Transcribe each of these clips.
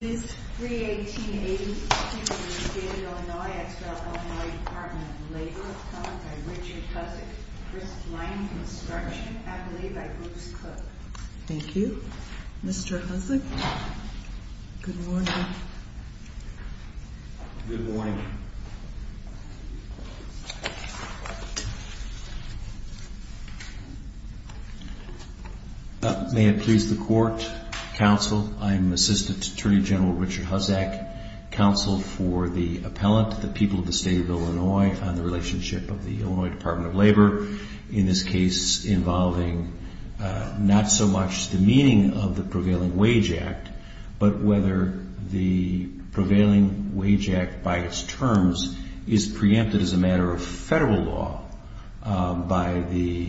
This 3-18-82 was created in Illinois ex rel. Illinois Department of Labor by Richard Hussick, Chris Lion Construction, Adelaide by Bruce Cook. Thank you. Mr. Hussick. Good morning. Good morning. May it please the Court, Counsel, I'm Assistant Attorney General Richard Hussick, Counsel for the Appellant to the people of the State of Illinois on the relationship of the Illinois Department of Labor, in this case involving not so much the meaning of the Prevailing Wage Act, but whether the Prevailing Wage Act by its terms is preempted as a matter of Federal law by the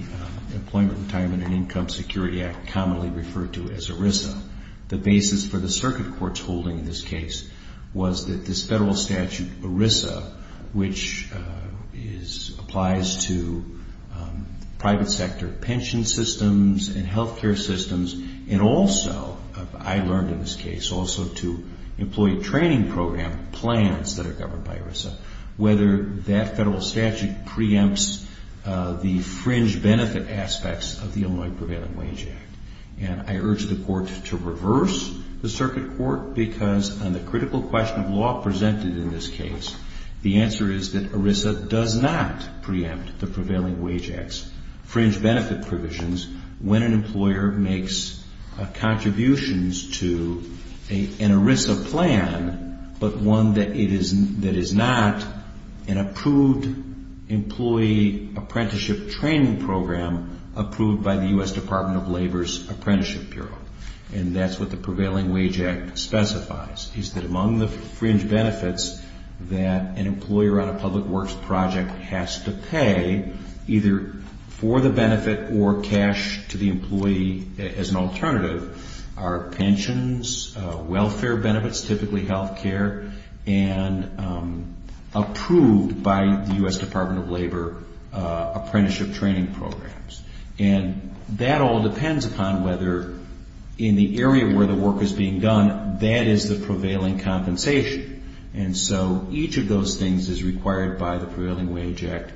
Employment, Retirement and Income Security Act, commonly referred to as ERISA. The basis for the Circuit Court's holding in this case was that this Federal statute, ERISA, which applies to private sector pension systems and health care systems and also, I learned in this case, also to employee training program plans that are governed by ERISA, whether that Federal statute preempts the fringe benefit aspects of the Illinois Prevailing Wage Act. And I urge the Court to reverse the Circuit Court because on the critical question of law presented in this case, the answer is that ERISA does not preempt the Prevailing Wage Act's fringe benefit provisions when an employer makes contributions to an ERISA plan, but one that is not an approved employee apprenticeship training program approved by the U.S. Department of Labor. And that's what the Prevailing Wage Act specifies, is that among the fringe benefits that an employer on a public works project has to pay, either for the benefit or cash to the employee as an alternative, are pensions, welfare benefits, typically health care, and approved by the U.S. Department of Labor apprenticeship training programs. And that all depends upon whether in the area where the work is being done, that is the prevailing compensation. And so each of those things is required by the Prevailing Wage Act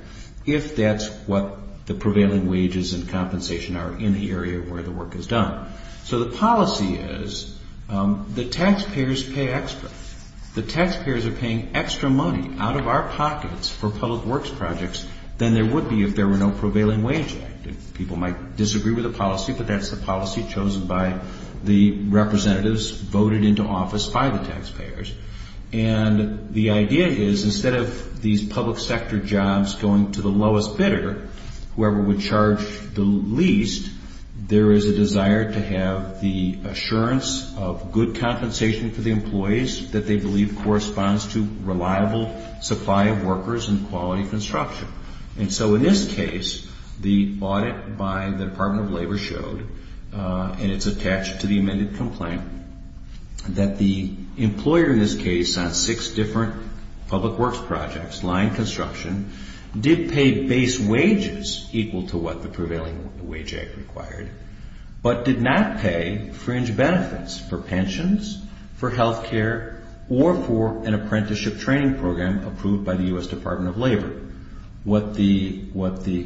if that's what the prevailing wages and compensation are in the area where the work is done. So the policy is that taxpayers pay extra. The taxpayers are paying extra money out of our pockets for public works projects than there would be if there were no Prevailing Wage Act. And people might disagree with the policy, but that's the policy chosen by the representatives voted into office by the taxpayers. And the idea is instead of these public sector jobs going to the lowest bidder, whoever would charge the least, there is a desire to have the assurance of good compensation for the employees that they believe corresponds to reliable supply of workers and quality construction. And so in this case, the audit by the Department of Labor showed, and it's attached to the amended complaint, that the employer in this case on six different public works projects, line construction, did pay base wages equal to what the Prevailing Wage Act required, but did not pay fringe benefits for pensions, for health care, or for an apprenticeship training program approved by the U.S. Department of Labor. What the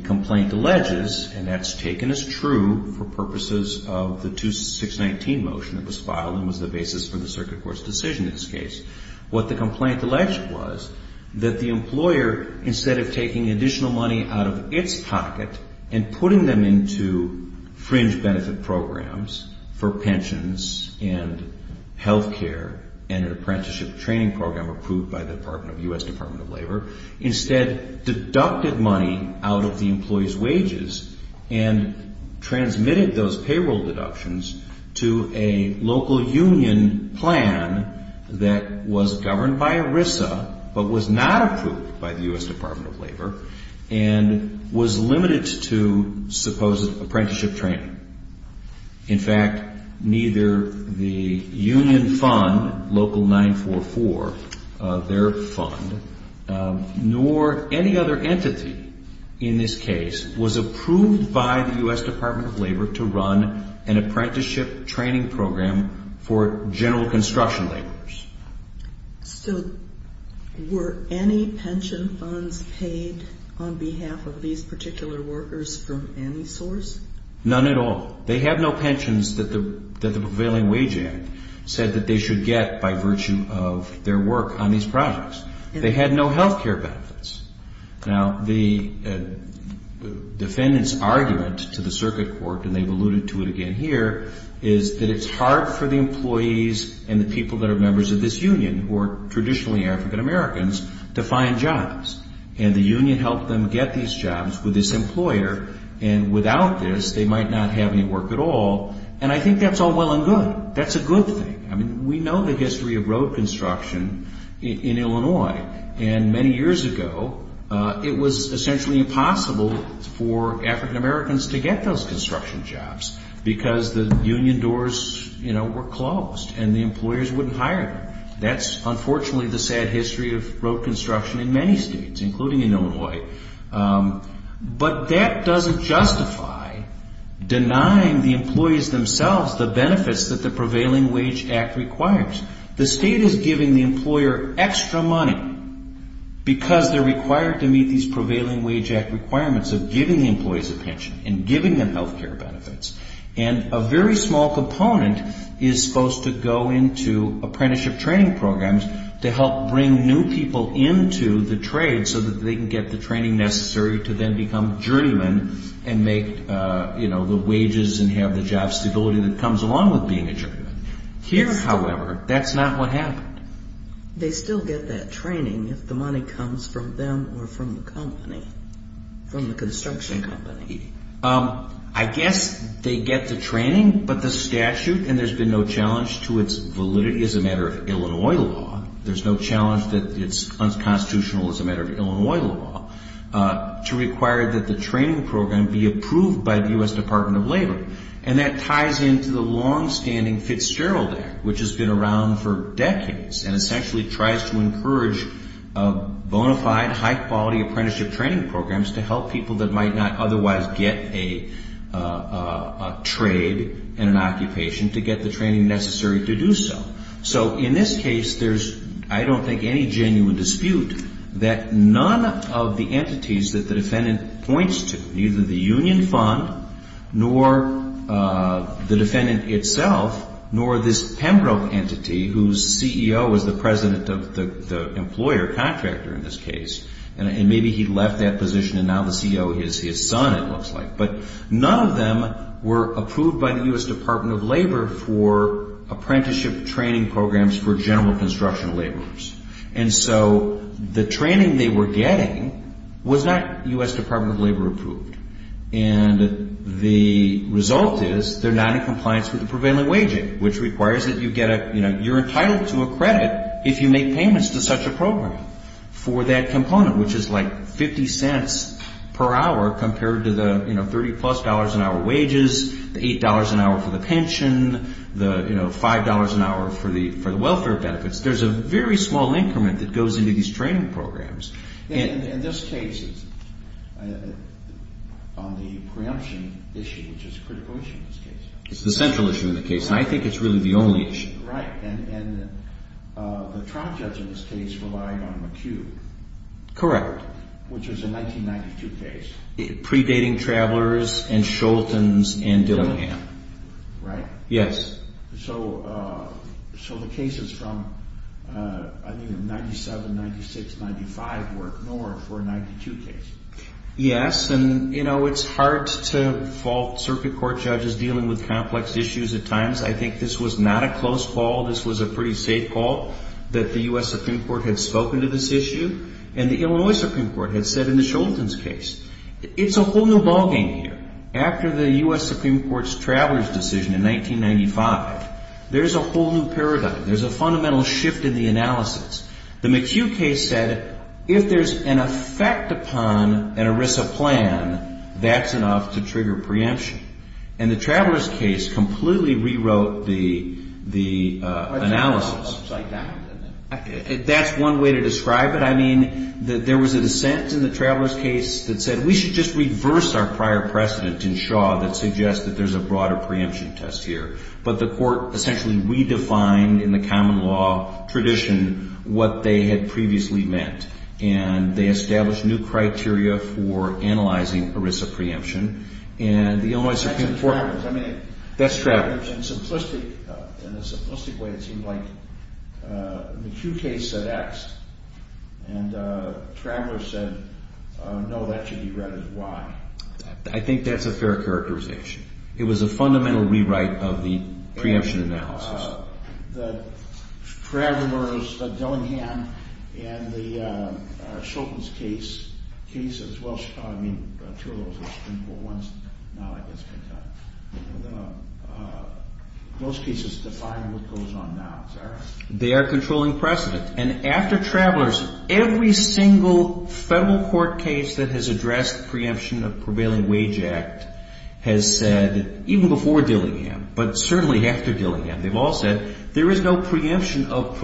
complaint alleges, and that's taken as true for purposes of the 2619 motion that was filed and was the basis for the circuit court's decision in this case, what the complaint alleged was that the employer, instead of taking additional money out of its pocket and putting them into fringe benefit programs for pensions and health care and an apprenticeship training program approved by the U.S. Department of Labor, instead deducted money out of the employee's wages and transmitted those payroll deductions to a local union plan that was governed by ERISA, but was not approved by the U.S. Department of Labor, and was limited to supposed apprenticeship training. In fact, neither the union fund, Local 944, their fund, nor any other entity in this case was approved by the U.S. Department of Labor to run an apprenticeship training program for general construction laborers. So were any pension funds paid on behalf of these particular workers from any source? None at all. They have no pensions that the prevailing wage act said that they should get by virtue of their work on these projects. They had no health care benefits. Now, the defendant's argument to the circuit court, and they've alluded to it again here, is that it's hard for the employees and the people that are members of this union, who are traditionally African Americans, to find jobs. And the union helped them get these jobs with this employer. And without this, they might not have any work at all. And I think that's all well and good. That's a good thing. I mean, we know the history of road construction in Illinois. And many years ago, it was essentially impossible for African Americans to get those construction jobs because the union doors, you know, were closed and the employers wouldn't hire them. That's unfortunately the sad history of road construction in many states, including in Illinois. But that doesn't justify denying the employees themselves the benefits that the prevailing wage act requires. The state is giving the employer extra money because they're required to meet these prevailing wage act requirements of giving the employees a pension and giving them health care benefits. And a very small component is supposed to go into apprenticeship training programs to help bring new people into the trade so that they can get the training necessary to then become journeymen and make, you know, the wages and have the job stability that comes along with being a journeyman. Here, however, that's not what happened. They still get that training if the money comes from them or from the company, from the construction company. I guess they get the training, but the statute and there's been no challenge to its validity as a matter of Illinois law. There's no challenge that it's unconstitutional as a matter of Illinois law to require that the training program be approved by the U.S. Department of Labor. And that ties into the longstanding Fitzgerald Act, which has been around for decades and essentially tries to encourage bona fide, high-quality apprenticeship training programs to help people that might not otherwise get a trade and an occupation to get the training necessary to do so. So in this case, there's, I don't think, any genuine dispute that none of the entities that the defendant points to, neither the union fund nor the defendant itself nor this Pembroke entity whose CEO is the president of the employer, contractor in this case, and maybe he left that position and now the CEO is his son, it looks like. But none of them were approved by the U.S. Department of Labor for apprenticeship training programs for general construction laborers. And so the training they were getting was not U.S. Department of Labor approved. And the result is they're not in compliance with the prevailing waging, which requires that you get a, you know, you're entitled to a credit if you make payments to such a program for that component, which is like 50 cents per hour compared to the, you know, 30-plus dollars an hour wages, the $8 an hour for the pension, the, you know, $5 an hour for the welfare benefits. There's a very small increment that goes into these training programs. And this case is on the preemption issue, which is a critical issue in this case. It's the central issue in the case, and I think it's really the only issue. Right. And the trial judge in this case relied on McCue. Correct. Which was a 1992 case. Predating Travelers and Scholten's and Dillingham. Right? Yes. So the cases from, I mean, 97, 96, 95 were ignored for a 92 case. Yes. And, you know, it's hard to fault circuit court judges dealing with complex issues at times. I think this was not a close call. This was a pretty safe call that the U.S. Supreme Court had spoken to this issue and the Illinois Supreme Court had said in the Scholten's case. It's a whole new ballgame here. After the U.S. Supreme Court's Travelers decision in 1995, there's a whole new paradigm. There's a fundamental shift in the analysis. The McCue case said if there's an effect upon an ERISA plan, that's enough to trigger preemption. And the Travelers case completely rewrote the analysis. That's one way to describe it. I mean, there was a dissent in the Travelers case that said we should just reverse our prior precedent in Shaw that suggests that there's a broader preemption test here. But the court essentially redefined in the common law tradition what they had previously meant. And they established new criteria for analyzing ERISA preemption. And the Illinois Supreme Court. In a simplistic way, it seemed like the McCue case said X and Travelers said no, that should be read as Y. I think that's a fair characterization. It was a fundamental rewrite of the preemption analysis. The Travelers, Dillingham, and the Shultz case as well as Chicago, I mean, two of those were Supreme Court ones. Now that gets picked up. Most cases define what goes on now, is that right? They are controlling precedent. And after Travelers, every single federal court case that has addressed preemption of prevailing wage act has said, even before Dillingham, but certainly after Dillingham, they've all said there is no preemption of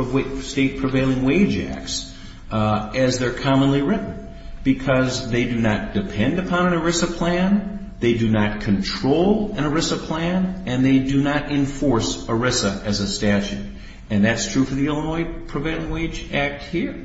state prevailing wage acts as they're commonly written. Because they do not depend upon an ERISA plan. They do not control an ERISA plan. And they do not enforce ERISA as a statute. And that's true for the Illinois Prevailing Wage Act here.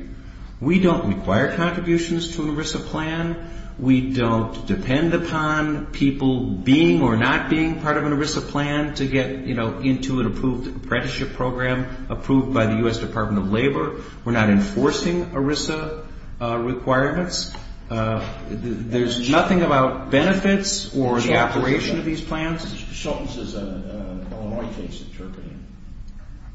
We don't require contributions to an ERISA plan. We don't depend upon people being or not being part of an ERISA plan to get, you know, into an approved apprenticeship program approved by the U.S. Department of Labor. We're not enforcing ERISA requirements. There's nothing about benefits or the operation of these plans. Shultz is an Illinois case interpreting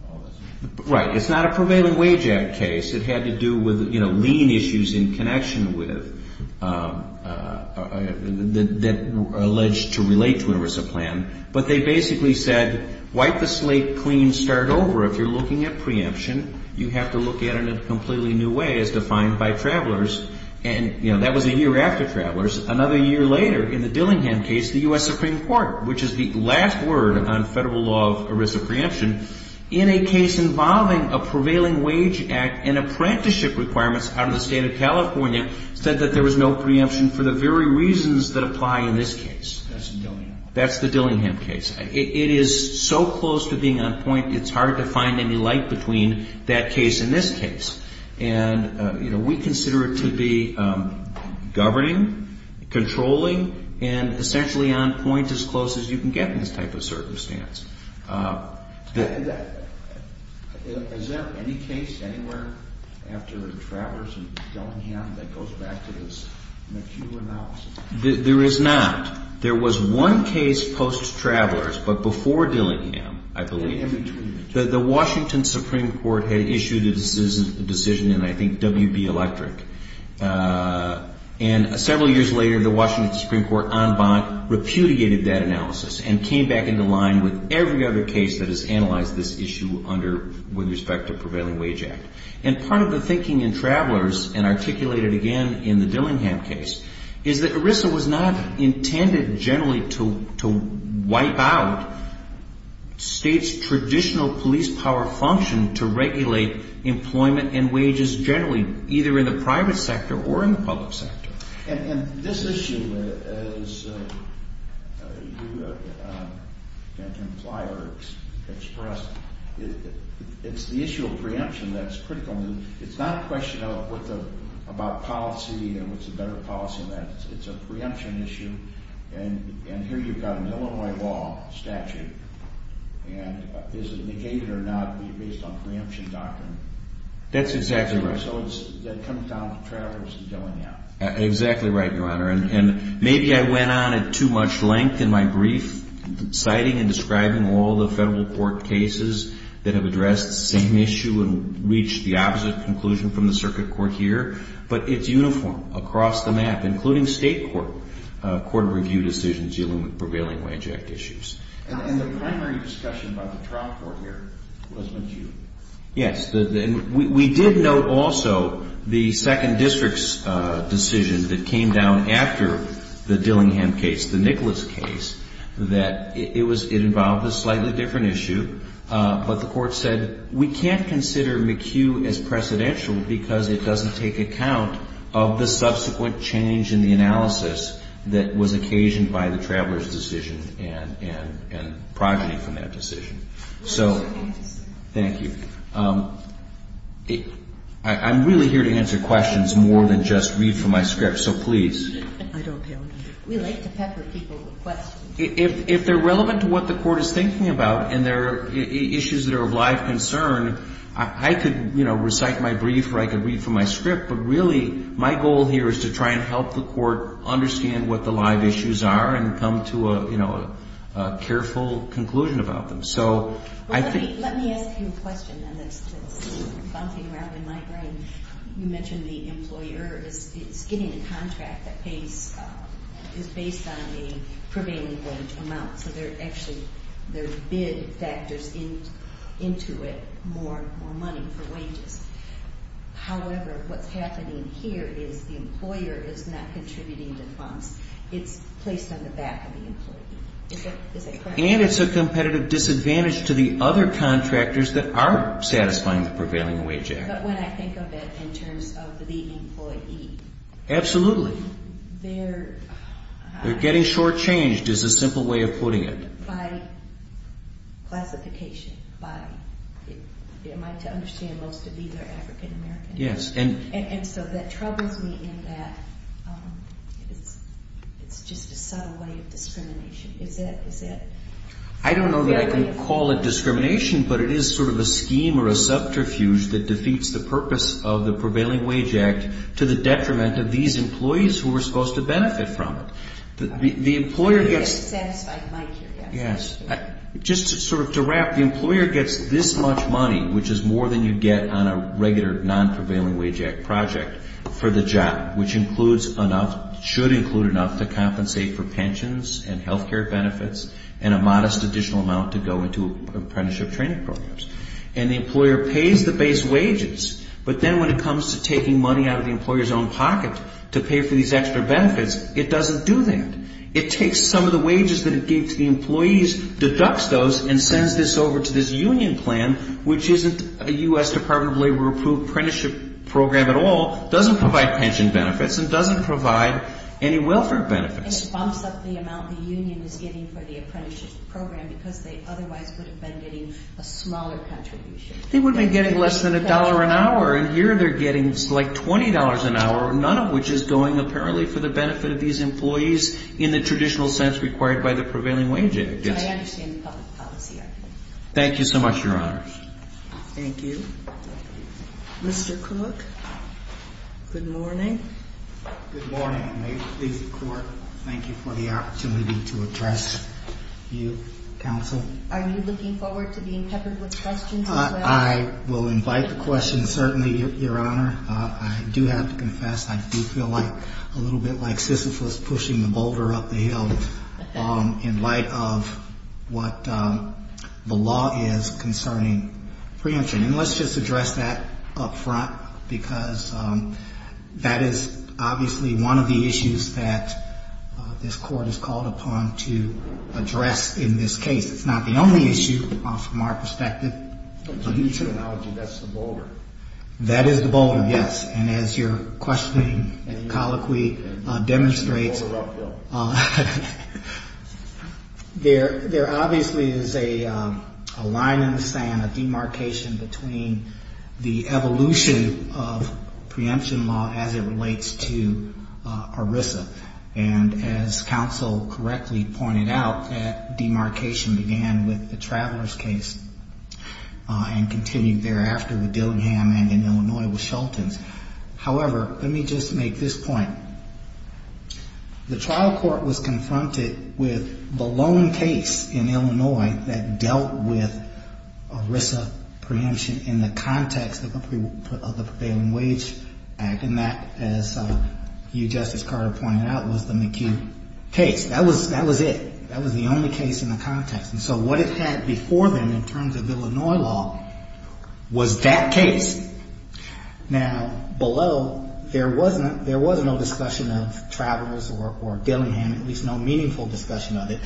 all this. Right. It's not a prevailing wage act case. It had to do with, you know, lien issues in connection with that alleged to relate to an ERISA plan. But they basically said, wipe the slate clean, start over. If you're looking at preemption, you have to look at it in a completely new way as defined by travelers. And, you know, that was a year after travelers. Another year later, in the Dillingham case, the U.S. Supreme Court, which is the last word on federal law of ERISA preemption, in a case involving a prevailing wage act and apprenticeship requirements out of the state of California, said that there was no preemption for the very reasons that apply in this case. That's the Dillingham case. That's the Dillingham case. It is so close to being on point, it's hard to find any light between that case and this case. And, you know, we consider it to be governing, controlling, and essentially on point as close as you can get in this type of circumstance. Is there any case anywhere after the travelers in Dillingham that goes back to this McHugh analysis? There is not. There was one case post-travelers, but before Dillingham, I believe. In between. The Washington Supreme Court had issued a decision in, I think, WB Electric. And several years later, the Washington Supreme Court, en banc, repudiated that analysis and came back into line with every other case that has analyzed this issue under, with respect to prevailing wage act. And part of the thinking in travelers, and articulated again in the Dillingham case, is that ERISA was not intended generally to wipe out states' traditional police power function to regulate employment and wages generally, either in the private sector or in the public sector. And this issue, as you and Ken Plyer expressed, it's the issue of preemption that's critical. It's not a question about policy and what's a better policy than that. It's a preemption issue. And here you've got an Illinois law statute. And is it negated or not based on preemption doctrine? That's exactly right. So it comes down to travelers and Dillingham. Exactly right, Your Honor. And maybe I went on at too much length in my brief, citing and describing all the federal court cases that have addressed the same issue and reached the opposite conclusion from the circuit court here. But it's uniform across the map, including state court review decisions dealing with prevailing wage act issues. And the primary discussion by the trial court here was McHugh. Yes. We did note also the second district's decision that came down after the Dillingham case, the Nicholas case, that it involved a slightly different issue. But the court said we can't consider McHugh as precedential because it doesn't take account of the subsequent change in the analysis that was occasioned by the traveler's decision and progeny from that decision. So thank you. I'm really here to answer questions more than just read from my script, so please. I don't count on you. We like to pepper people with questions. If they're relevant to what the court is thinking about and they're issues that are of live concern, I could, you know, recite my brief or I could read from my script. But really my goal here is to try and help the court understand what the live issues are and come to a, you know, a careful conclusion about them. So I think... Let me ask you a question that's bumping around in my brain. You mentioned the employer is getting a contract that pays, is based on the prevailing wage amount. So there are actually, there are bid factors into it, more money for wages. However, what's happening here is the employer is not contributing the funds. It's placed on the back of the employee. Is that correct? And it's a competitive disadvantage to the other contractors that are satisfying the prevailing wage act. But when I think of it in terms of the employee... Absolutely. They're... They're getting shortchanged is a simple way of putting it. By classification, by... Am I to understand most of these are African American? Yes. And so that troubles me in that it's just a subtle way of discrimination. Is that... I don't know that I can call it discrimination, but it is sort of a scheme or a subterfuge that defeats the purpose of the prevailing wage act to the detriment of these employees who are supposed to benefit from it. The employer gets... Yes. Just sort of to wrap, the employer gets this much money, which is more than you'd get on a regular non-prevailing wage act project, for the job, which includes enough, should include enough, to compensate for pensions and health care benefits and a modest additional amount to go into apprenticeship training programs. And the employer pays the base wages. But then when it comes to taking money out of the employer's own pocket to pay for these extra benefits, it doesn't do that. It takes some of the wages that it gave to the employees, deducts those, and sends this over to this union plan, which isn't a U.S. Department of Labor-approved apprenticeship program at all, doesn't provide pension benefits, and doesn't provide any welfare benefits. And it bumps up the amount the union is getting for the apprenticeship program because they otherwise would have been getting a smaller contribution. They would have been getting less than a dollar an hour, and here they're getting like $20 an hour, none of which is going apparently for the benefit of these employees in the traditional sense required by the prevailing wage act. I understand the public policy. Thank you so much, Your Honor. Thank you. Mr. Cook, good morning. Good morning, and may it please the Court, thank you for the opportunity to address you, Counsel. Are you looking forward to being peppered with questions as well? I will invite the questions, certainly, Your Honor. I do have to confess, I do feel like a little bit like Sisyphus pushing the boulder up the hill in light of what the law is concerning preemption. And let's just address that up front, because that is obviously one of the issues that this Court is called upon to address in this case. It's not the only issue from our perspective. To use an analogy, that's the boulder. That is the boulder, yes. And as your questioning colloquy demonstrates, there obviously is a line in the sand, a demarcation between the evolution of preemption law as it relates to ERISA. And as Counsel correctly pointed out, that demarcation began with the Traveler's case and continued thereafter with Dillingham and in Illinois with Shelton's. However, let me just make this point. The trial court was confronted with the lone case in Illinois that dealt with ERISA preemption in the context of the Prevailing Wage Act. And that, as you, Justice Carter, pointed out, was the McHugh case. That was it. That was the only case in the context. And so what it had before them in terms of Illinois law was that case. Now, below, there was no discussion of Traveler's or Dillingham, at least no meaningful discussion of it.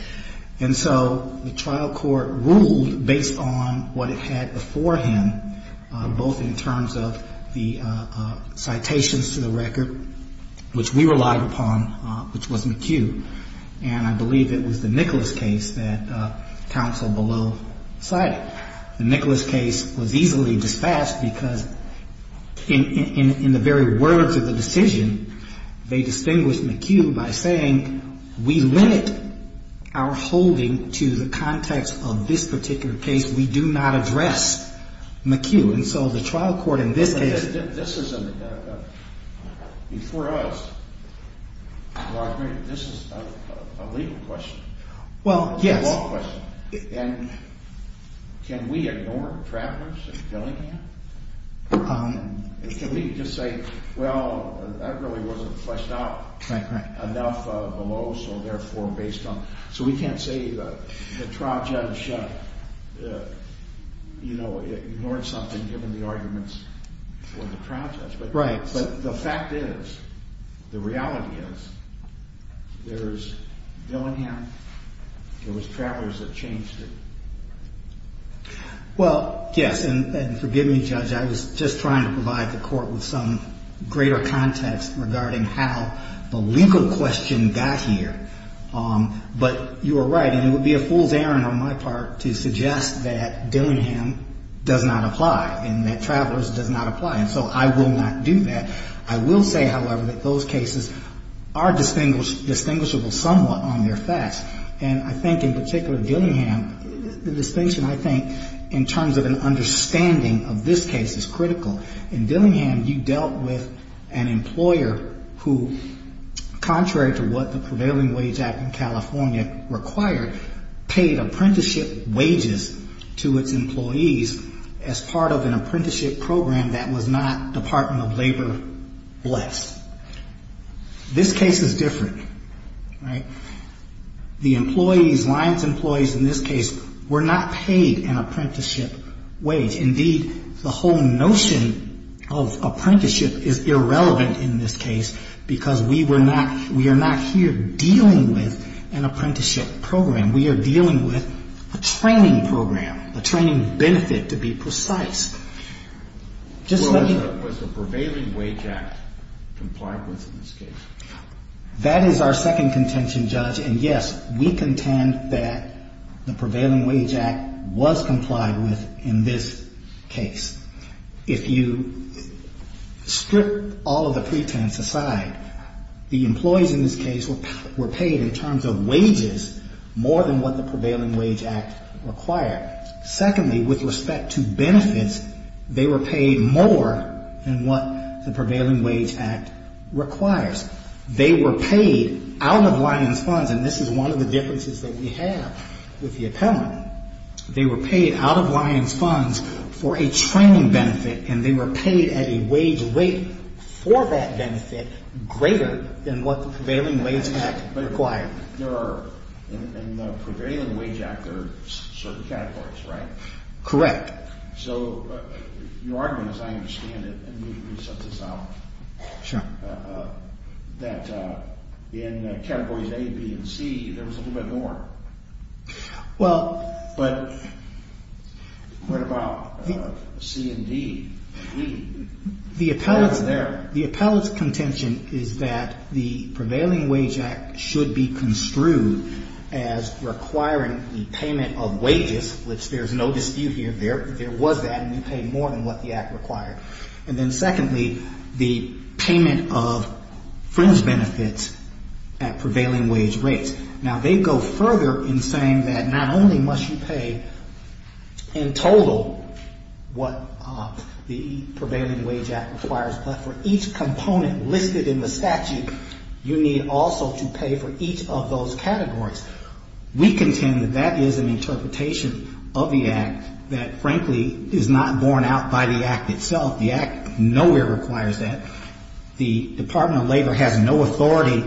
And so the trial court ruled based on what it had beforehand, both in terms of the citations to the record, which we relied upon, which was McHugh. And I believe it was the Nicholas case that Counsel below cited. The Nicholas case was easily dispatched because in the very words of the decision, they distinguished McHugh by saying, we limit our holding to the context of this particular case. We do not address McHugh. And so the trial court in this case. This is a legal question. Well, yes. And can we ignore Traveler's and Dillingham? Can we just say, well, that really wasn't fleshed out enough below, so therefore based on, so we can't say the trial judge ignored something given the arguments for the trial judge. But the fact is, the reality is, there's Dillingham. There was Traveler's that changed it. Well, yes. And forgive me, Judge, I was just trying to provide the court with some greater context regarding how the legal question got here. But you are right. And it would be a fool's errand on my part to suggest that Dillingham does not apply and that Traveler's does not apply. And so I will not do that. I will say, however, that those cases are distinguishable somewhat on their facts. And I think in particular Dillingham, the distinction, I think, in terms of an understanding of this case is critical. In Dillingham, you dealt with an employer who, contrary to what the Prevailing Wage Act in California required, paid apprenticeship wages to its employees as part of an apprenticeship program that was not Department of Labor-blessed. This case is different. The employees, Lyons employees in this case, were not paid an apprenticeship wage. Indeed, the whole notion of apprenticeship is irrelevant in this case because we are not here dealing with an apprenticeship program. We are dealing with a training program, a training benefit, to be precise. Was the Prevailing Wage Act complied with in this case? That is our second contention, Judge. And, yes, we contend that the Prevailing Wage Act was complied with in this case. If you strip all of the pretense aside, the employees in this case were paid in terms of wages more than what the Prevailing Wage Act required. Secondly, with respect to benefits, they were paid more than what the Prevailing Wage Act requires. They were paid out of Lyons funds, and this is one of the differences that we have with the appellant. They were paid out of Lyons funds for a training benefit, and they were paid at a wage rate for that benefit greater than what the Prevailing Wage Act required. In the Prevailing Wage Act, there are certain categories, right? Correct. So your argument, as I understand it, and maybe you can set this out, that in categories A, B, and C, there was a little bit more. But what about C and D? The appellant's contention is that the Prevailing Wage Act should be construed as requiring the payment of wages, which there's no dispute here. There was that, and you paid more than what the act required. And then secondly, the payment of friends' benefits at prevailing wage rates. Now, they go further in saying that not only must you pay in total what the Prevailing Wage Act requires, but for each component listed in the statute, you need also to pay for each of those categories. We contend that that is an interpretation of the act that, frankly, is not borne out by the act itself. The act nowhere requires that. The Department of Labor has no authority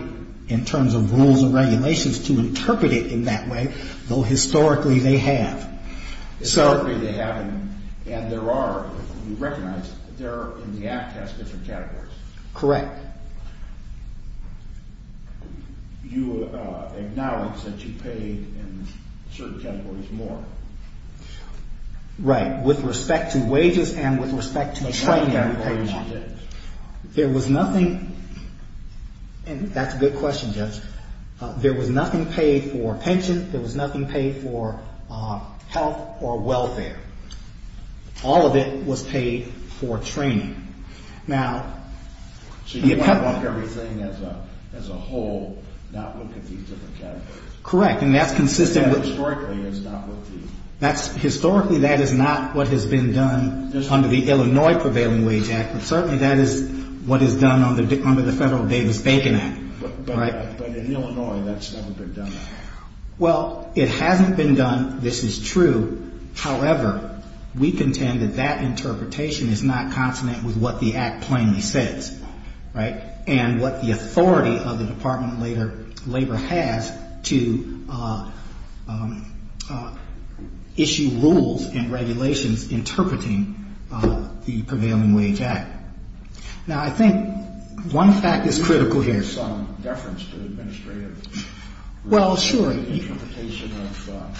in terms of rules and regulations to interpret it in that way, though historically they have. Historically they have, and there are, you recognize that the act has different categories. Correct. You acknowledge that you paid in certain categories more. Right, with respect to wages and with respect to training. There was nothing... That's a good question, Judge. There was nothing paid for pension. There was nothing paid for health or welfare. All of it was paid for training. Now... So you want to look at everything as a whole, not look at these different categories. Correct, and that's consistent with... Historically, it's not what these... Historically, that is not what has been done under the Illinois Prevailing Wage Act, but certainly that is what is done under the federal Davis-Bacon Act. But in Illinois, that's never been done. Well, it hasn't been done, this is true. However, we contend that that interpretation is not consonant with what the act plainly says, right, and what the authority of the Department of Labor has to issue rules and regulations interpreting the Prevailing Wage Act. Now, I think one fact is critical here. Can you give some deference to the administrative... Well, sure. ...interpretation of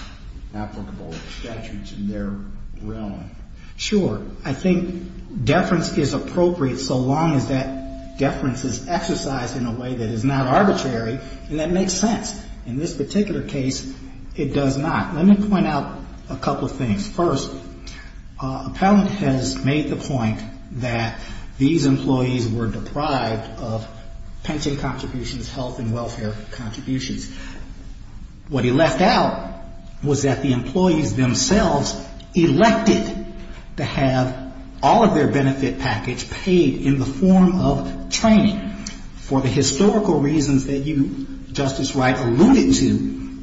applicable statutes in their realm? Sure. I think deference is appropriate so long as that deference is exercised in a way that is not arbitrary, and that makes sense. In this particular case, it does not. Let me point out a couple of things. First, Appellant has made the point that these employees were deprived of pension contributions, health and welfare contributions. What he left out was that the employees themselves elected to have all of their benefit package paid in the form of training for the historical reasons that you, Justice Wright, alluded to,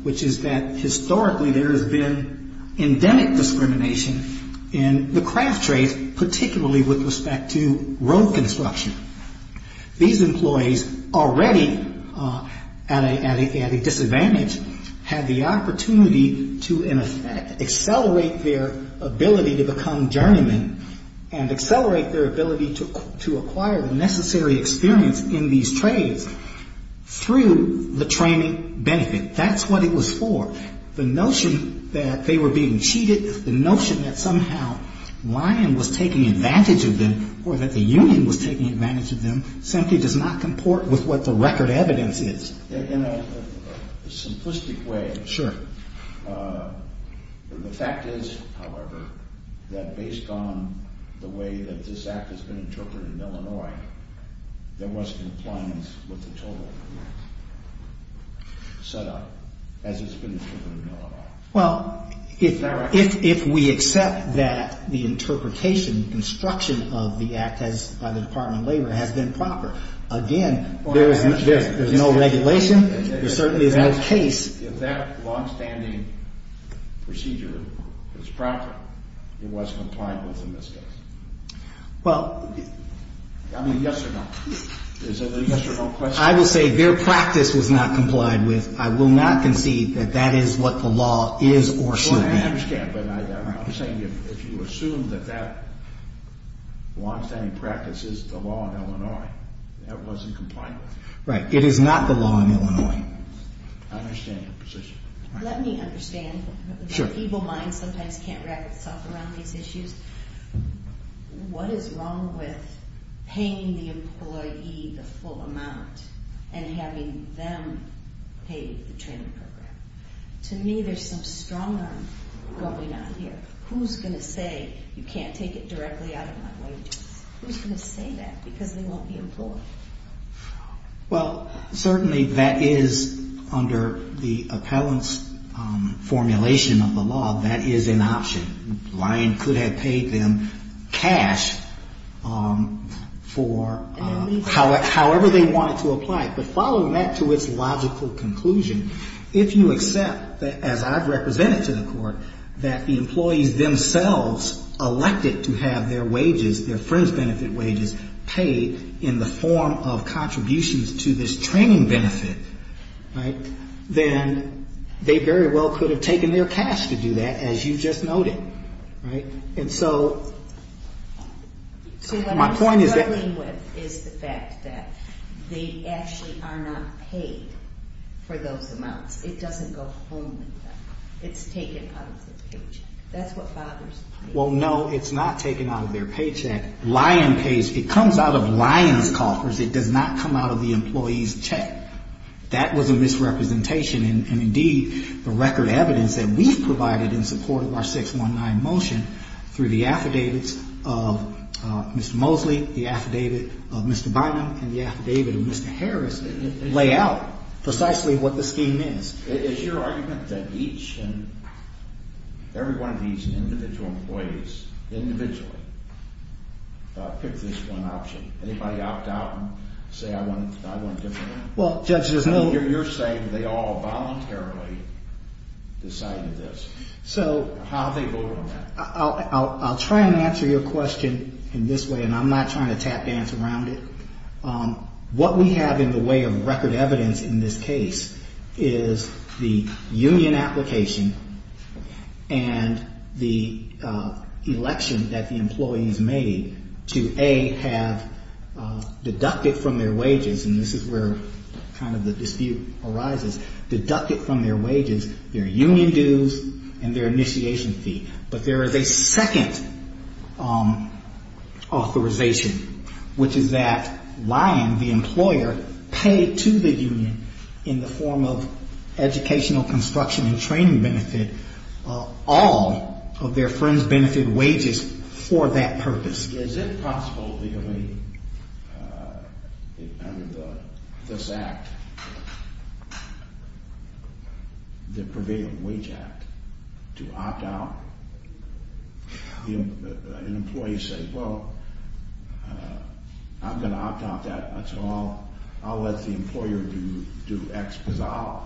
which is that historically there has been endemic discrimination in the craft trade, particularly with respect to road construction. These employees, already at a disadvantage, had the opportunity to, in effect, accelerate their ability to become journeymen and accelerate their ability to acquire the necessary experience in these trades through the training benefit. That's what it was for. The notion that they were being cheated, the notion that somehow Lyon was taking advantage of them or that the union was taking advantage of them simply does not comport with what the record evidence is. In a simplistic way, the fact is, however, that based on the way that this Act has been interpreted in Illinois, there was compliance with the total set up as it's been interpreted in Illinois. Well, if we accept that the interpretation, construction of the Act by the Department of Labor has been proper, again, there's no regulation. There certainly is no case. If that long-standing procedure is proper, it was compliant with the misgivings. Well... I mean, yes or no? Is it a yes or no question? I will say their practice was not complied with. I will not concede that that is what the law is or should be. I understand, but I'm saying if you assume that that long-standing practice is the law in Illinois, that wasn't complied with. Right. It is not the law in Illinois. I understand your position. Let me understand. Sure. The evil mind sometimes can't wrap itself around these issues. What is wrong with paying the employee the full amount and having them pay the training program? To me, there's some strong-arm going on here. Who's going to say you can't take it directly out of my wages? Who's going to say that because they won't be employed? Well, certainly that is under the appellant's formulation of the law. That is an option. Ryan could have paid them cash for however they wanted to apply it. But following that to its logical conclusion, if you accept that, as I've represented to the Court, that the employees themselves elected to have their wages, their friends' benefit wages, paid in the form of contributions to this training benefit, then they very well could have taken their cash to do that, as you just noted. And so my point is that— It doesn't go home with them. It's taken out of their paycheck. That's what bothers me. Well, no, it's not taken out of their paycheck. Ryan pays. It comes out of Ryan's coffers. It does not come out of the employee's check. That was a misrepresentation. And, indeed, the record evidence that we've provided in support of our 619 motion, through the affidavits of Mr. Mosley, the affidavit of Mr. Bynum, and the affidavit of Mr. Harris, lay out precisely what the scheme is. Is your argument that each and every one of these individual employees, individually, picked this one option? Anybody opt out and say, I want a different one? Well, Judge, there's no— I mean, you're saying they all voluntarily decided this. So— How do they vote on that? I'll try and answer your question in this way, and I'm not trying to tap dance around it. What we have in the way of record evidence in this case is the union application and the election that the employees made to, A, have deducted from their wages, and this is where kind of the dispute arises, deducted from their wages, their union dues and their initiation fee. But there is a second authorization, which is that Lyon, the employer, paid to the union, in the form of educational construction and training benefit, all of their fringe benefit wages for that purpose. Is it possible legally under this act, the Prevailing Wage Act, to opt out? An employee says, well, I'm going to opt out of that, so I'll let the employer do X because I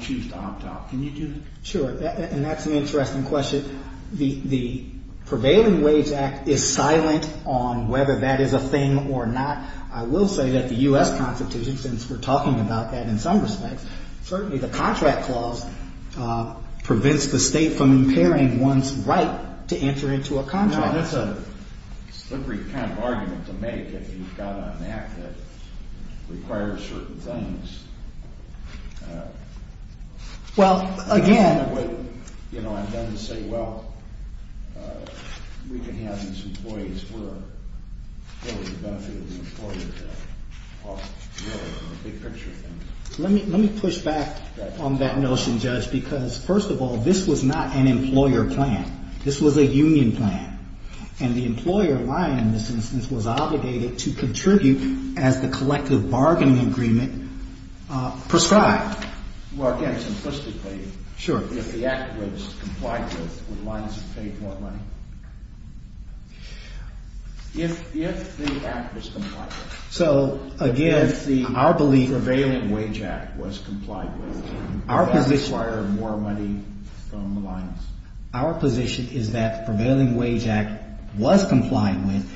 choose to opt out. Can you do that? Sure, and that's an interesting question. The Prevailing Wage Act is silent on whether that is a thing or not. I will say that the U.S. Constitution, since we're talking about that in some respects, certainly the contract clause prevents the state from impairing one's right to enter into a contract. That's a slippery kind of argument to make if you've got an act that requires certain things. Well, again- I'm done to say, well, we can have these employees work for the benefit of the employer. It's a big picture thing. Let me push back on that notion, Judge, because, first of all, this was not an employer plan. This was a union plan, and the employer, Lyon, in this instance, was obligated to contribute as the collective bargaining agreement prescribed. Well, again, simplistically, if the act was complied with, would Lyons have paid more money? If the act was complied with- So, again, our belief- If the Prevailing Wage Act was complied with, would that require more money from Lyons? Our position is that the Prevailing Wage Act was complied with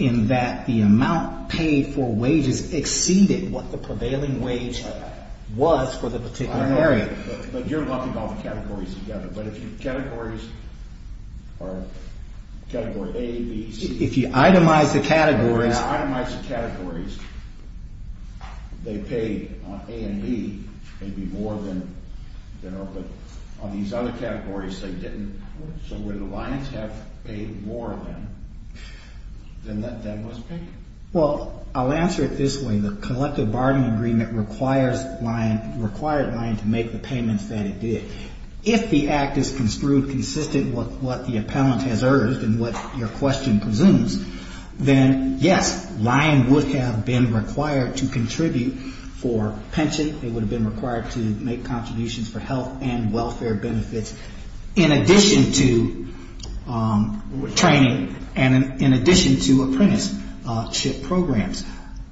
in that the amount paid for wages exceeded what the prevailing wage was for the particular area. But you're lumping all the categories together. But if your categories are category A, B, C- If you itemize the categories- If you itemize the categories, they paid on A and B maybe more than- But on these other categories, they didn't. So would Lyons have paid more than was paid? Well, I'll answer it this way. The collective bargaining agreement required Lyon to make the payments that it did. If the act is construed consistent with what the appellant has urged and what your question presumes, then, yes, Lyon would have been required to contribute for pension. They would have been required to make contributions for health and welfare benefits in addition to training and in addition to apprenticeship programs.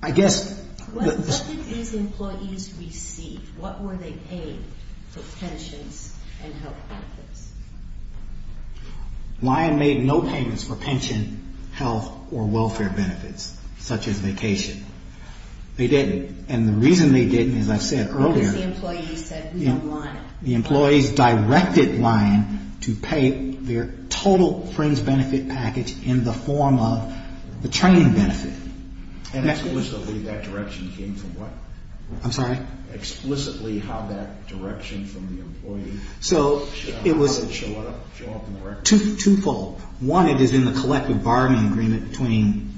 I guess- What did these employees receive? What were they paid for pensions and health benefits? Lyon made no payments for pension, health, or welfare benefits, such as vacation. They didn't. And the reason they didn't, as I said earlier- Because the employees said we don't want it. The employees directed Lyon to pay their total fringe benefit package in the form of the training benefit. And explicitly that direction came from what? I'm sorry? Explicitly how that direction from the employee- So it was- How did it show up in the record? Twofold. One, it is in the collective bargaining agreement between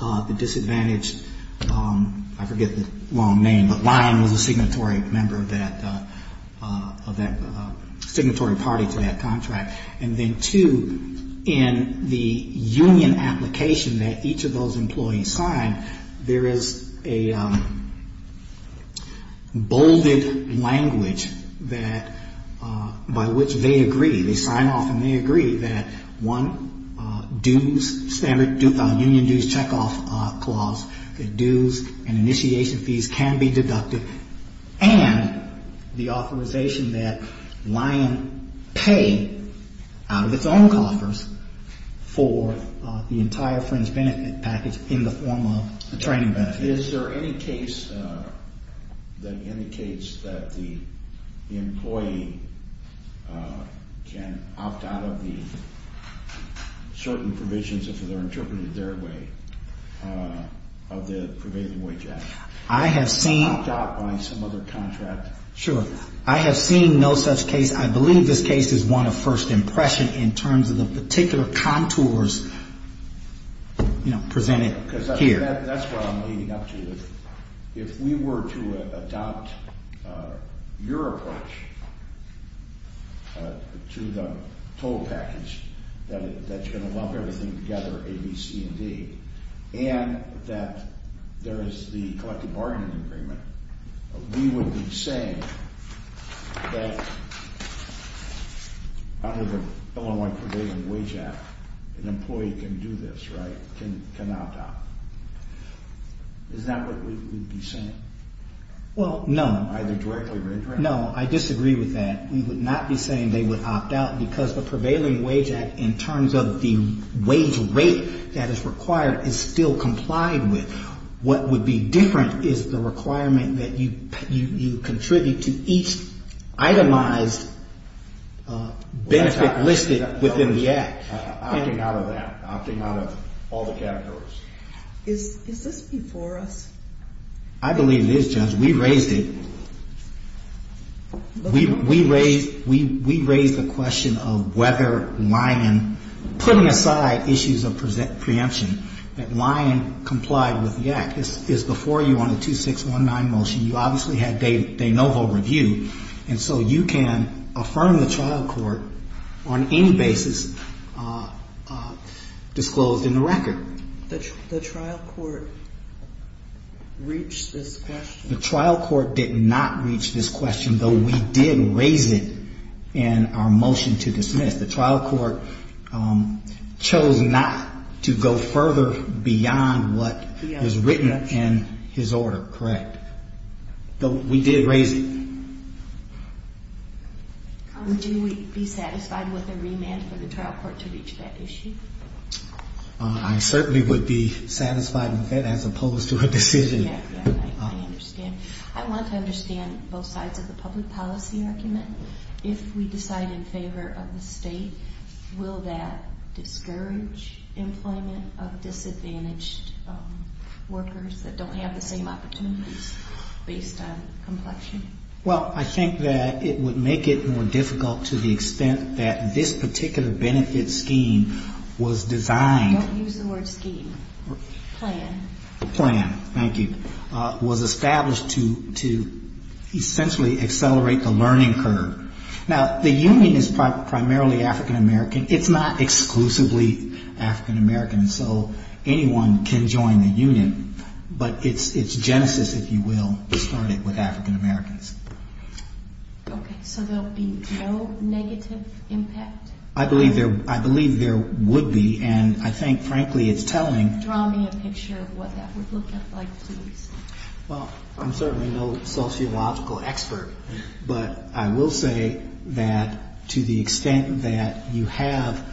the disadvantaged- I forget the long name, but Lyon was a signatory member of that- signatory party to that contract. And then two, in the union application that each of those employees signed, there is a bolded language that- by which they agree. They sign off and they agree that, one, dues, standard union dues checkoff clause, that dues and initiation fees can be deducted, and the authorization that Lyon pay out of its own coffers for the entire fringe benefit package in the form of the training benefit. And is there any case that indicates that the employee can opt out of the certain provisions, if they're interpreted their way, of the prevailing wage act? I have seen- Opt out by some other contract? Sure. I have seen no such case. I believe this case is one of first impression in terms of the particular contours, you know, presented here. That's what I'm leading up to. If we were to adopt your approach to the total package that's going to lump everything together, A, B, C, and D, and that there is the collective bargaining agreement, we would be saying that under the Illinois prevailing wage act, an employee can do this, right? Can opt out. Is that what we would be saying? Well, no. Either directly or indirectly? No. I disagree with that. We would not be saying they would opt out because the prevailing wage act, in terms of the wage rate that is required, is still complied with. What would be different is the requirement that you contribute to each itemized benefit listed within the act. Opting out of that. Opting out of all the categories. Is this before us? I believe it is, Judge. We raised it. We raised the question of whether Lyon, putting aside issues of preemption, that Lyon complied with the act. This is before you on the 2619 motion. You obviously had de novo reviewed, and so you can affirm the trial court on any basis disclosed in the record. The trial court reached this question. The trial court did not reach this question, though we did raise it in our motion to dismiss. The trial court chose not to go further beyond what was written in his order, correct? We did raise it. Would you be satisfied with a remand for the trial court to reach that issue? I certainly would be satisfied with that, as opposed to a decision. Exactly. I understand. I want to understand both sides of the public policy argument. If we decide in favor of the state, will that discourage employment of disadvantaged workers that don't have the same opportunities, based on complexion? Well, I think that it would make it more difficult to the extent that this particular benefit scheme was designed. Don't use the word scheme. Plan. Plan. Thank you. Was established to essentially accelerate the learning curve. Now, the union is primarily African American. It's not exclusively African American, so anyone can join the union. But it's Genesis, if you will, that started with African Americans. Okay, so there will be no negative impact? I believe there would be, and I think, frankly, it's telling. Draw me a picture of what that would look like, please. Well, I'm certainly no sociological expert, but I will say that to the extent that you have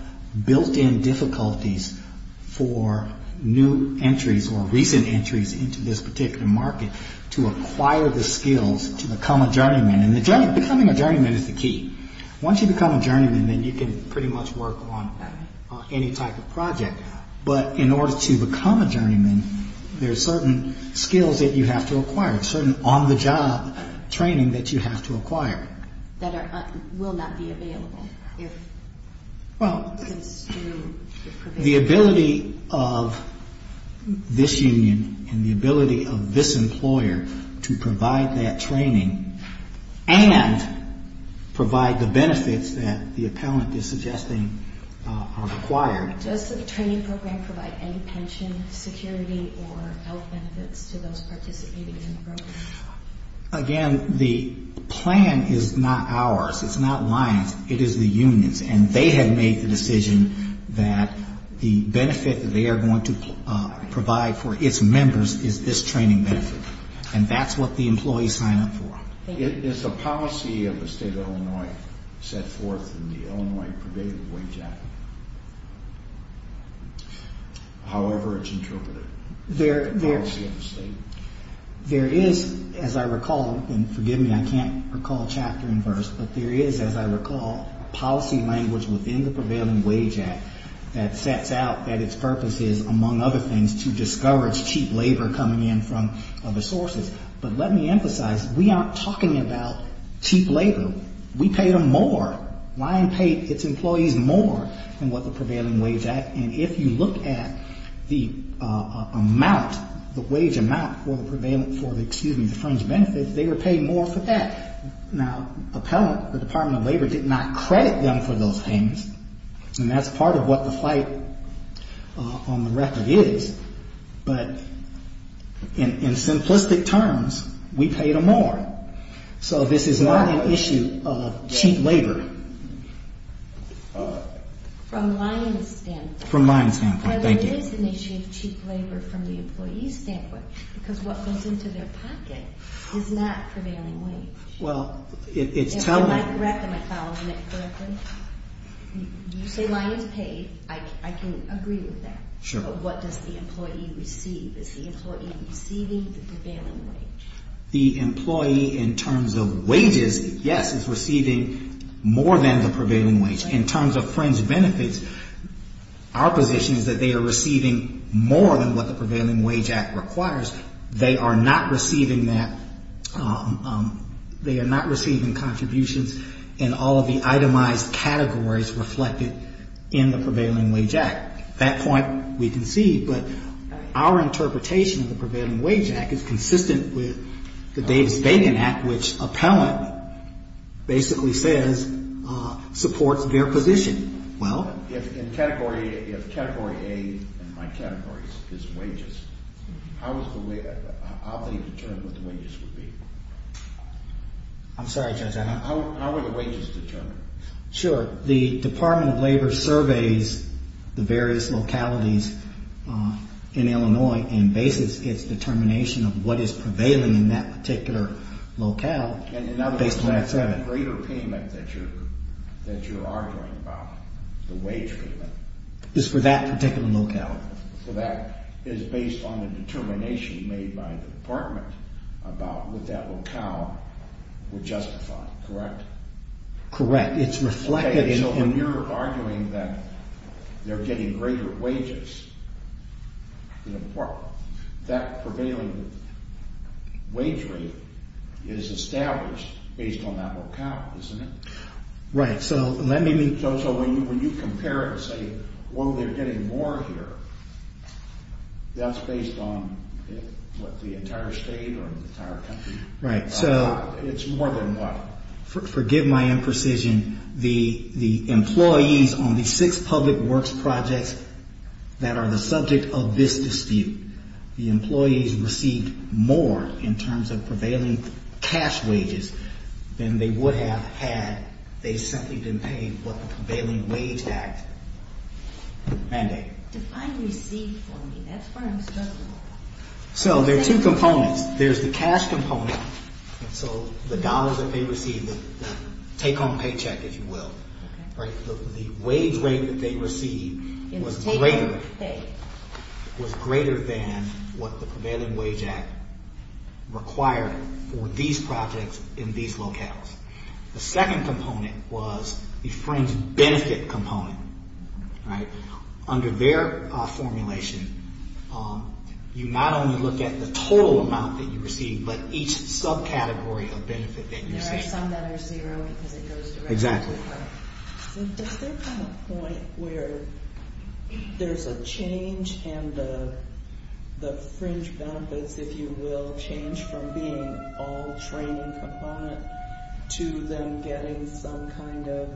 built-in difficulties for new entries or recent entries into this particular market to acquire the skills to become a journeyman. And becoming a journeyman is the key. Once you become a journeyman, then you can pretty much work on any type of project. But in order to become a journeyman, there are certain skills that you have to acquire, certain on-the-job training that you have to acquire. That will not be available. Well, the ability of this union and the ability of this employer to provide that training and provide the benefits that the appellant is suggesting are required. Does the training program provide any pension, security, or health benefits to those participating in the program? Again, the plan is not ours. It's not mine. It is the union's. And they have made the decision that the benefit that they are going to provide for its members is this training benefit. And that's what the employees sign up for. Is the policy of the state of Illinois set forth in the Illinois Prevailing Wage Act, however it's interpreted, the policy of the state? There is, as I recall, and forgive me, I can't recall chapter and verse, but there is, as I recall, policy language within the Prevailing Wage Act that sets out that its purpose is, among other things, to discourage cheap labor coming in from other sources. But let me emphasize, we aren't talking about cheap labor. We pay them more. Lyon paid its employees more than what the Prevailing Wage Act. And if you look at the amount, the wage amount for the prevailing, for the, excuse me, the fringe benefits, they were paid more for that. Now, appellant, the Department of Labor, did not credit them for those payments. And that's part of what the fight on the record is. But in simplistic terms, we paid them more. So this is not an issue of cheap labor. From Lyon's standpoint. From Lyon's standpoint. Thank you. Rather, it is an issue of cheap labor from the employee's standpoint because what goes into their pocket is not prevailing wage. Well, it's telling. If I'm not correct, am I following that correctly? You say Lyon's paid. I can agree with that. Sure. But what does the employee receive? Is the employee receiving the prevailing wage? The employee, in terms of wages, yes, is receiving more than the prevailing wage. In terms of fringe benefits, our position is that they are receiving more than what the Prevailing Wage Act requires. They are not receiving that. They are not receiving contributions in all of the itemized categories reflected in the Prevailing Wage Act. That point we concede. But our interpretation of the Prevailing Wage Act is consistent with the Dave's Bacon Act, which appellant basically says supports their position. Well? If category A in my categories is wages, how is the way they determine what the wages would be? I'm sorry, Judge. How were the wages determined? Sure. The Department of Labor surveys the various localities in Illinois and bases its determination of what is prevailing in that particular locale based on that survey. In other words, that greater payment that you're arguing about, the wage payment. Is for that particular locale. So that is based on the determination made by the department about what that locale would justify, correct? Correct. It's reflected in... So when you're arguing that they're getting greater wages, that prevailing wage rate is established based on that locale, isn't it? Right. So let me... So when you compare it and say, oh, they're getting more here, that's based on what the entire state or the entire country... Right. It's more than what? Forgive my imprecision. The employees on the six public works projects that are the subject of this dispute, the employees received more in terms of prevailing cash wages than they would have had they simply been paid what the Prevailing Wage Act mandate. Define received for me. That's where I'm struggling. So there are two components. There's the cash component. So the dollars that they received, the take-home paycheck, if you will, the wage rate that they received was greater than what the Prevailing Wage Act required for these projects in these locales. The second component was the fringe benefit component, right? There are some that are zero because it goes directly to... Exactly. Does there come a point where there's a change in the fringe benefits, if you will, change from being all training component to them getting some kind of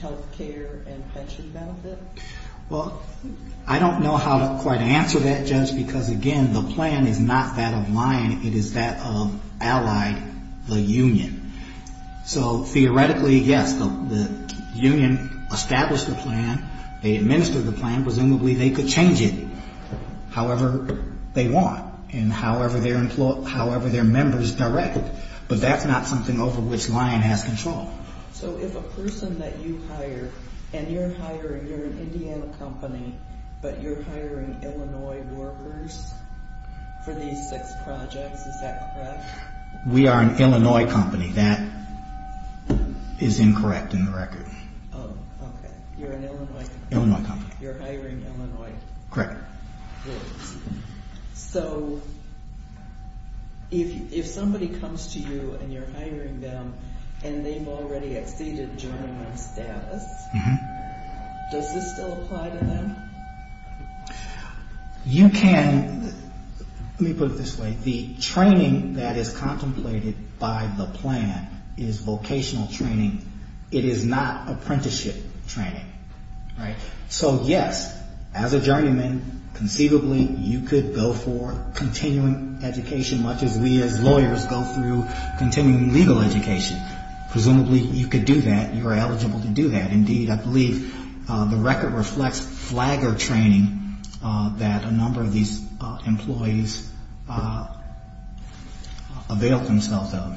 health care and pension benefit? Well, I don't know how to quite answer that, Judge, because, again, the plan is not that of Lion. It is that of Allied, the union. So theoretically, yes, the union established the plan. They administered the plan. Presumably they could change it however they want and however their members directed, but that's not something over which Lion has control. So if a person that you hire, and you're hiring, you're an Indiana company, but you're hiring Illinois workers for these six projects, is that correct? We are an Illinois company. That is incorrect in the record. Oh, okay. You're an Illinois company. Illinois company. You're hiring Illinois workers. Correct. So if somebody comes to you and you're hiring them and they've already exceeded journeyman status, does this still apply to them? You can... Let me put it this way. The training that is contemplated by the plan is vocational training. It is not apprenticeship training, right? So yes, as a journeyman, conceivably you could go for continuing education much as we as lawyers go through continuing legal education. Presumably you could do that. You are eligible to do that. Indeed, I believe the record reflects flagger training that a number of these employees avail themselves of.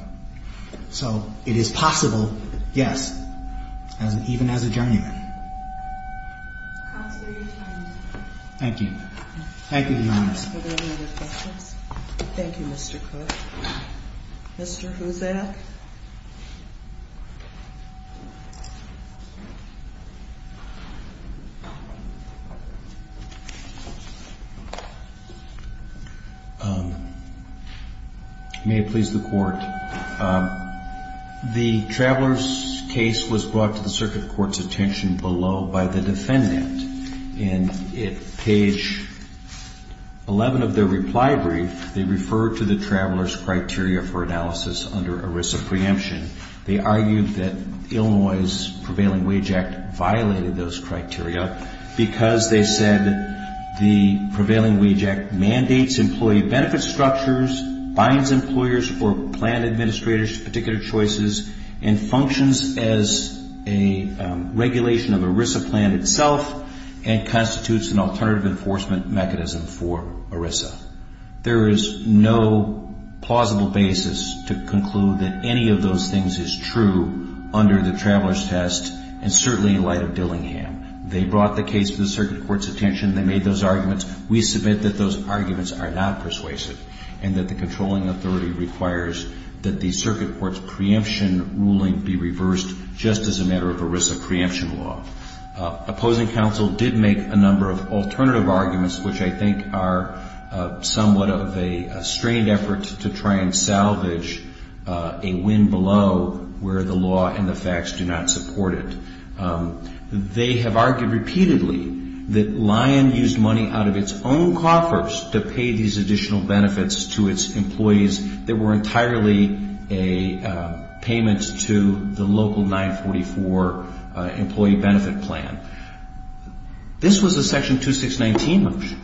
So it is possible, yes, even as a journeyman. Counselor, your time is up. Thank you. Thank you, Your Honor. Are there any other questions? Thank you, Mr. Cook. Mr. Huzak? May it please the Court. The traveler's case was brought to the circuit court's attention below by the defendant. And at page 11 of their reply brief, they referred to the traveler's criteria for analysis under ERISA preemption. They argued that Illinois' Prevailing Wage Act violated those criteria because they said the Prevailing Wage Act mandates employee benefit structures, binds employers or plan administrators to particular choices, and functions as a regulation of ERISA plan itself and constitutes an alternative enforcement mechanism for ERISA. There is no plausible basis to conclude that any of those things is true under the traveler's test and certainly in light of Dillingham. They brought the case to the circuit court's attention. They made those arguments. We submit that those arguments are not persuasive and that the controlling authority requires that the circuit court's preemption ruling be reversed just as a matter of ERISA preemption law. Opposing counsel did make a number of alternative arguments, which I think are somewhat of a strained effort to try and salvage a win below where the law and the facts do not support it. They have argued repeatedly that Lion used money out of its own coffers to pay these additional benefits to its employees that were entirely payments to the local 944 employee benefit plan. This was a section 2619 motion.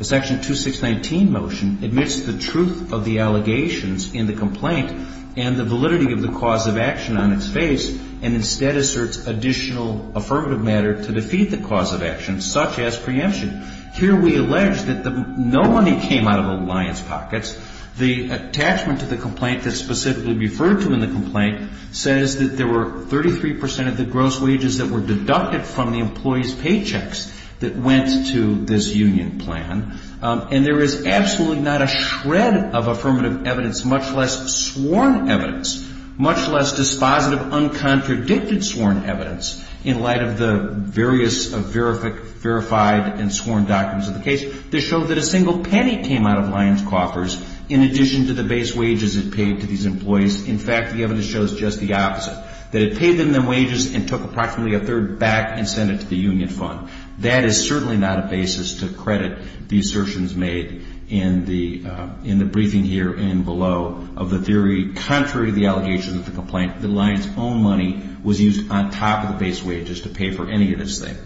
Section 2619 motion admits the truth of the allegations in the complaint and the validity of the cause of action on its face and instead asserts additional affirmative matter to defeat the cause of action such as preemption. Here we allege that no money came out of the Lion's pockets. The attachment to the complaint that's specifically referred to in the complaint says that there were 33 percent of the gross wages that were deducted from the employee's paychecks that went to this union plan. And there is absolutely not a shred of affirmative evidence, much less sworn evidence, much less dispositive, uncontradicted sworn evidence in light of the various verified and sworn documents of the case. This shows that a single penny came out of Lion's coffers in addition to the base wages it paid to these employees. In fact, the evidence shows just the opposite, that it paid them the wages and took approximately a third back and sent it to the union fund. That is certainly not a basis to credit the assertions made in the briefing here and below of the theory. Contrary to the allegations of the complaint, the Lion's own money was used on top of the base wages to pay for any of this thing.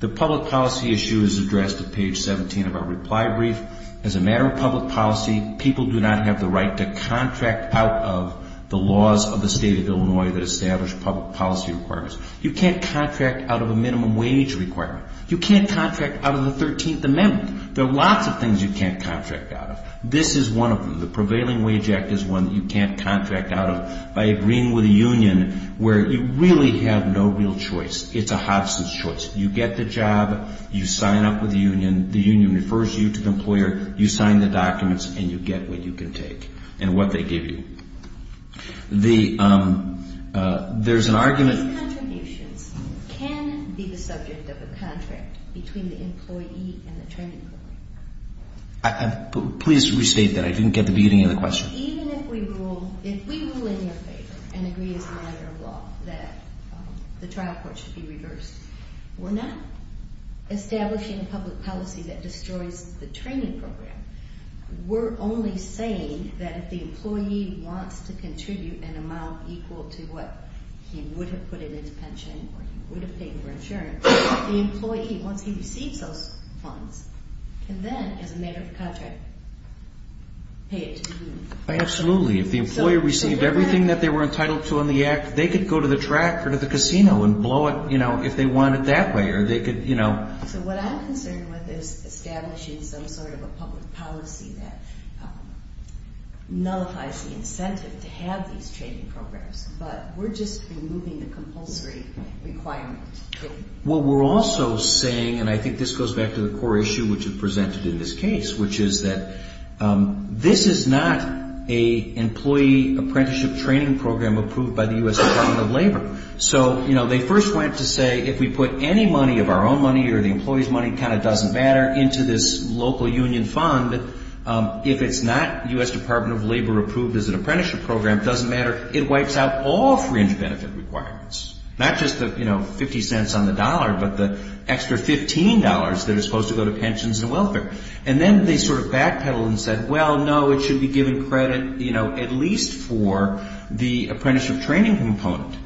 The public policy issue is addressed at page 17 of our reply brief. As a matter of public policy, people do not have the right to contract out of the laws of the State of Illinois that establish public policy requirements. You can't contract out of a minimum wage requirement. You can't contract out of the 13th Amendment. There are lots of things you can't contract out of. This is one of them. The Prevailing Wage Act is one that you can't contract out of by agreeing with a union where you really have no real choice. It's a Hodgson's choice. You get the job. You sign up with the union. The union refers you to the employer. You sign the documents, and you get what you can take and what they give you. There's an argument. These contributions can be the subject of a contract between the employee and the training employee. Please restate that. I didn't get the beginning of the question. Even if we rule in your favor and agree as a matter of law that the trial court should be reversed, we're not establishing public policy that destroys the training program. We're only saying that if the employee wants to contribute an amount equal to what he would have put in his pension or he would have paid for insurance, the employee, once he receives those funds, can then, as a matter of contract, pay it to the union. Absolutely. If the employer received everything that they were entitled to on the act, they could go to the track or to the casino and blow it if they wanted that way. What I'm concerned with is establishing some sort of a public policy that nullifies the incentive to have these training programs. But we're just removing the compulsory requirement. Well, we're also saying, and I think this goes back to the core issue which is presented in this case, which is that this is not an employee apprenticeship training program approved by the U.S. Department of Labor. So, you know, they first went to say if we put any money of our own money or the employee's money, it kind of doesn't matter, into this local union fund, if it's not U.S. Department of Labor approved as an apprenticeship program, it doesn't matter. It wipes out all fringe benefit requirements, not just the, you know, 50 cents on the dollar, but the extra $15 that is supposed to go to pensions and welfare. And then they sort of backpedaled and said, well, no, it should be given credit, you know, at least for the apprenticeship training component.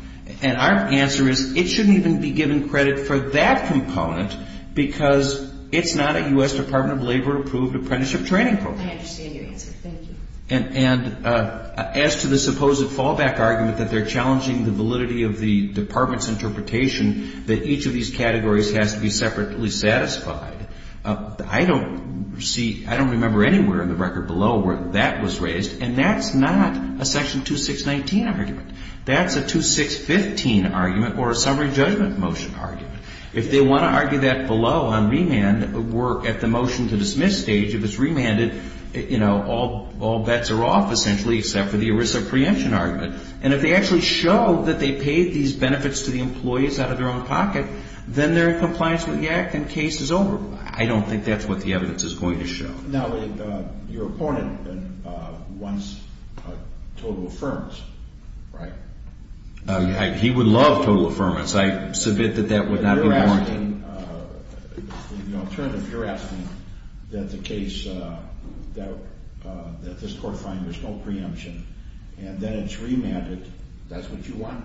And our answer is it shouldn't even be given credit for that component because it's not a U.S. Department of Labor approved apprenticeship training program. I understand your answer. Thank you. And as to the supposed fallback argument that they're challenging the validity of the department's interpretation, that each of these categories has to be separately satisfied, I don't see, I don't remember anywhere in the record below where that was raised, and that's not a section 2619 argument. That's a 2615 argument or a summary judgment motion argument. If they want to argue that below on remand work at the motion to dismiss stage, if it's remanded, you know, all bets are off essentially except for the ERISA preemption argument. And if they actually show that they paid these benefits to the employees out of their own pocket, then they're in compliance with the Act and the case is over. I don't think that's what the evidence is going to show. Now, your opponent wants total affirmance, right? He would love total affirmance. I submit that that would not be warranted. But you're asking, you know, alternative, you're asking that the case, that this court find there's no preemption, and then it's remanded, that's what you want?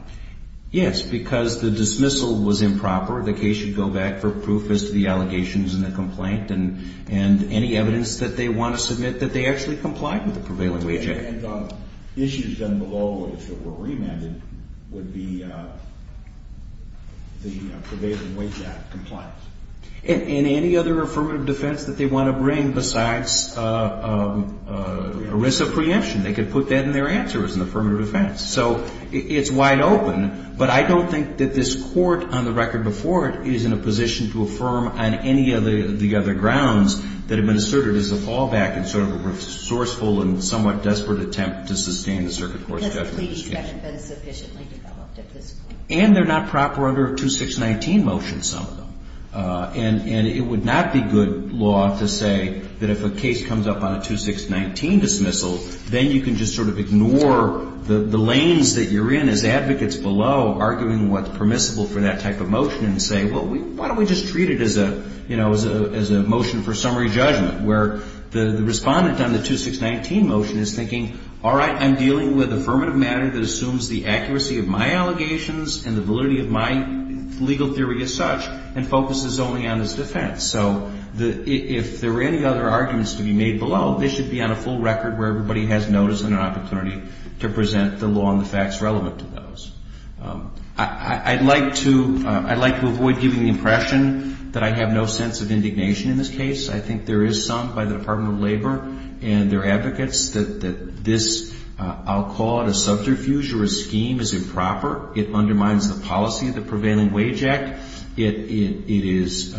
Yes, because the dismissal was improper. The case should go back for proof as to the allegations in the complaint and any evidence that they want to submit that they actually complied with the prevailing way check. And issues then below, if it were remanded, would be the prevailing way check compliance. And any other affirmative defense that they want to bring besides ERISA preemption, they could put that in their answer as an affirmative defense. So it's wide open, but I don't think that this court, on the record before it, is in a position to affirm on any of the other grounds that have been asserted as a fallback and sort of a resourceful and somewhat desperate attempt to sustain the circuit court's judgment. Because the pleadings haven't been sufficiently developed at this point. And they're not proper under a 2619 motion, some of them. And it would not be good law to say that if a case comes up on a 2619 dismissal, then you can just sort of ignore the lanes that you're in as advocates below, arguing what's permissible for that type of motion and say, well, why don't we just treat it as a motion for summary judgment, where the respondent on the 2619 motion is thinking, all right, I'm dealing with affirmative matter that assumes the accuracy of my allegations and the validity of my legal theory as such and focuses only on its defense. So if there were any other arguments to be made below, they should be on a full record where everybody has notice and an opportunity to present the law and the facts relevant to those. I'd like to avoid giving the impression that I have no sense of indignation in this case. I think there is some by the Department of Labor and their advocates that this, I'll call it a subterfuge or a scheme, is improper. It undermines the policy of the Prevailing Wage Act. It is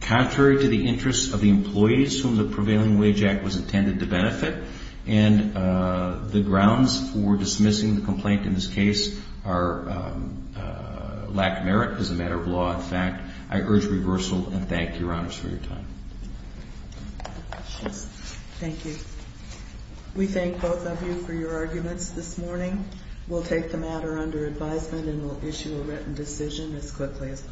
contrary to the interests of the employees whom the Prevailing Wage Act was intended to benefit. And the grounds for dismissing the complaint in this case are lack of merit as a matter of law and fact. I urge reversal and thank Your Honors for your time. Thank you. We thank both of you for your arguments this morning. We'll take the matter under advisement and we'll issue a written decision as quickly as possible.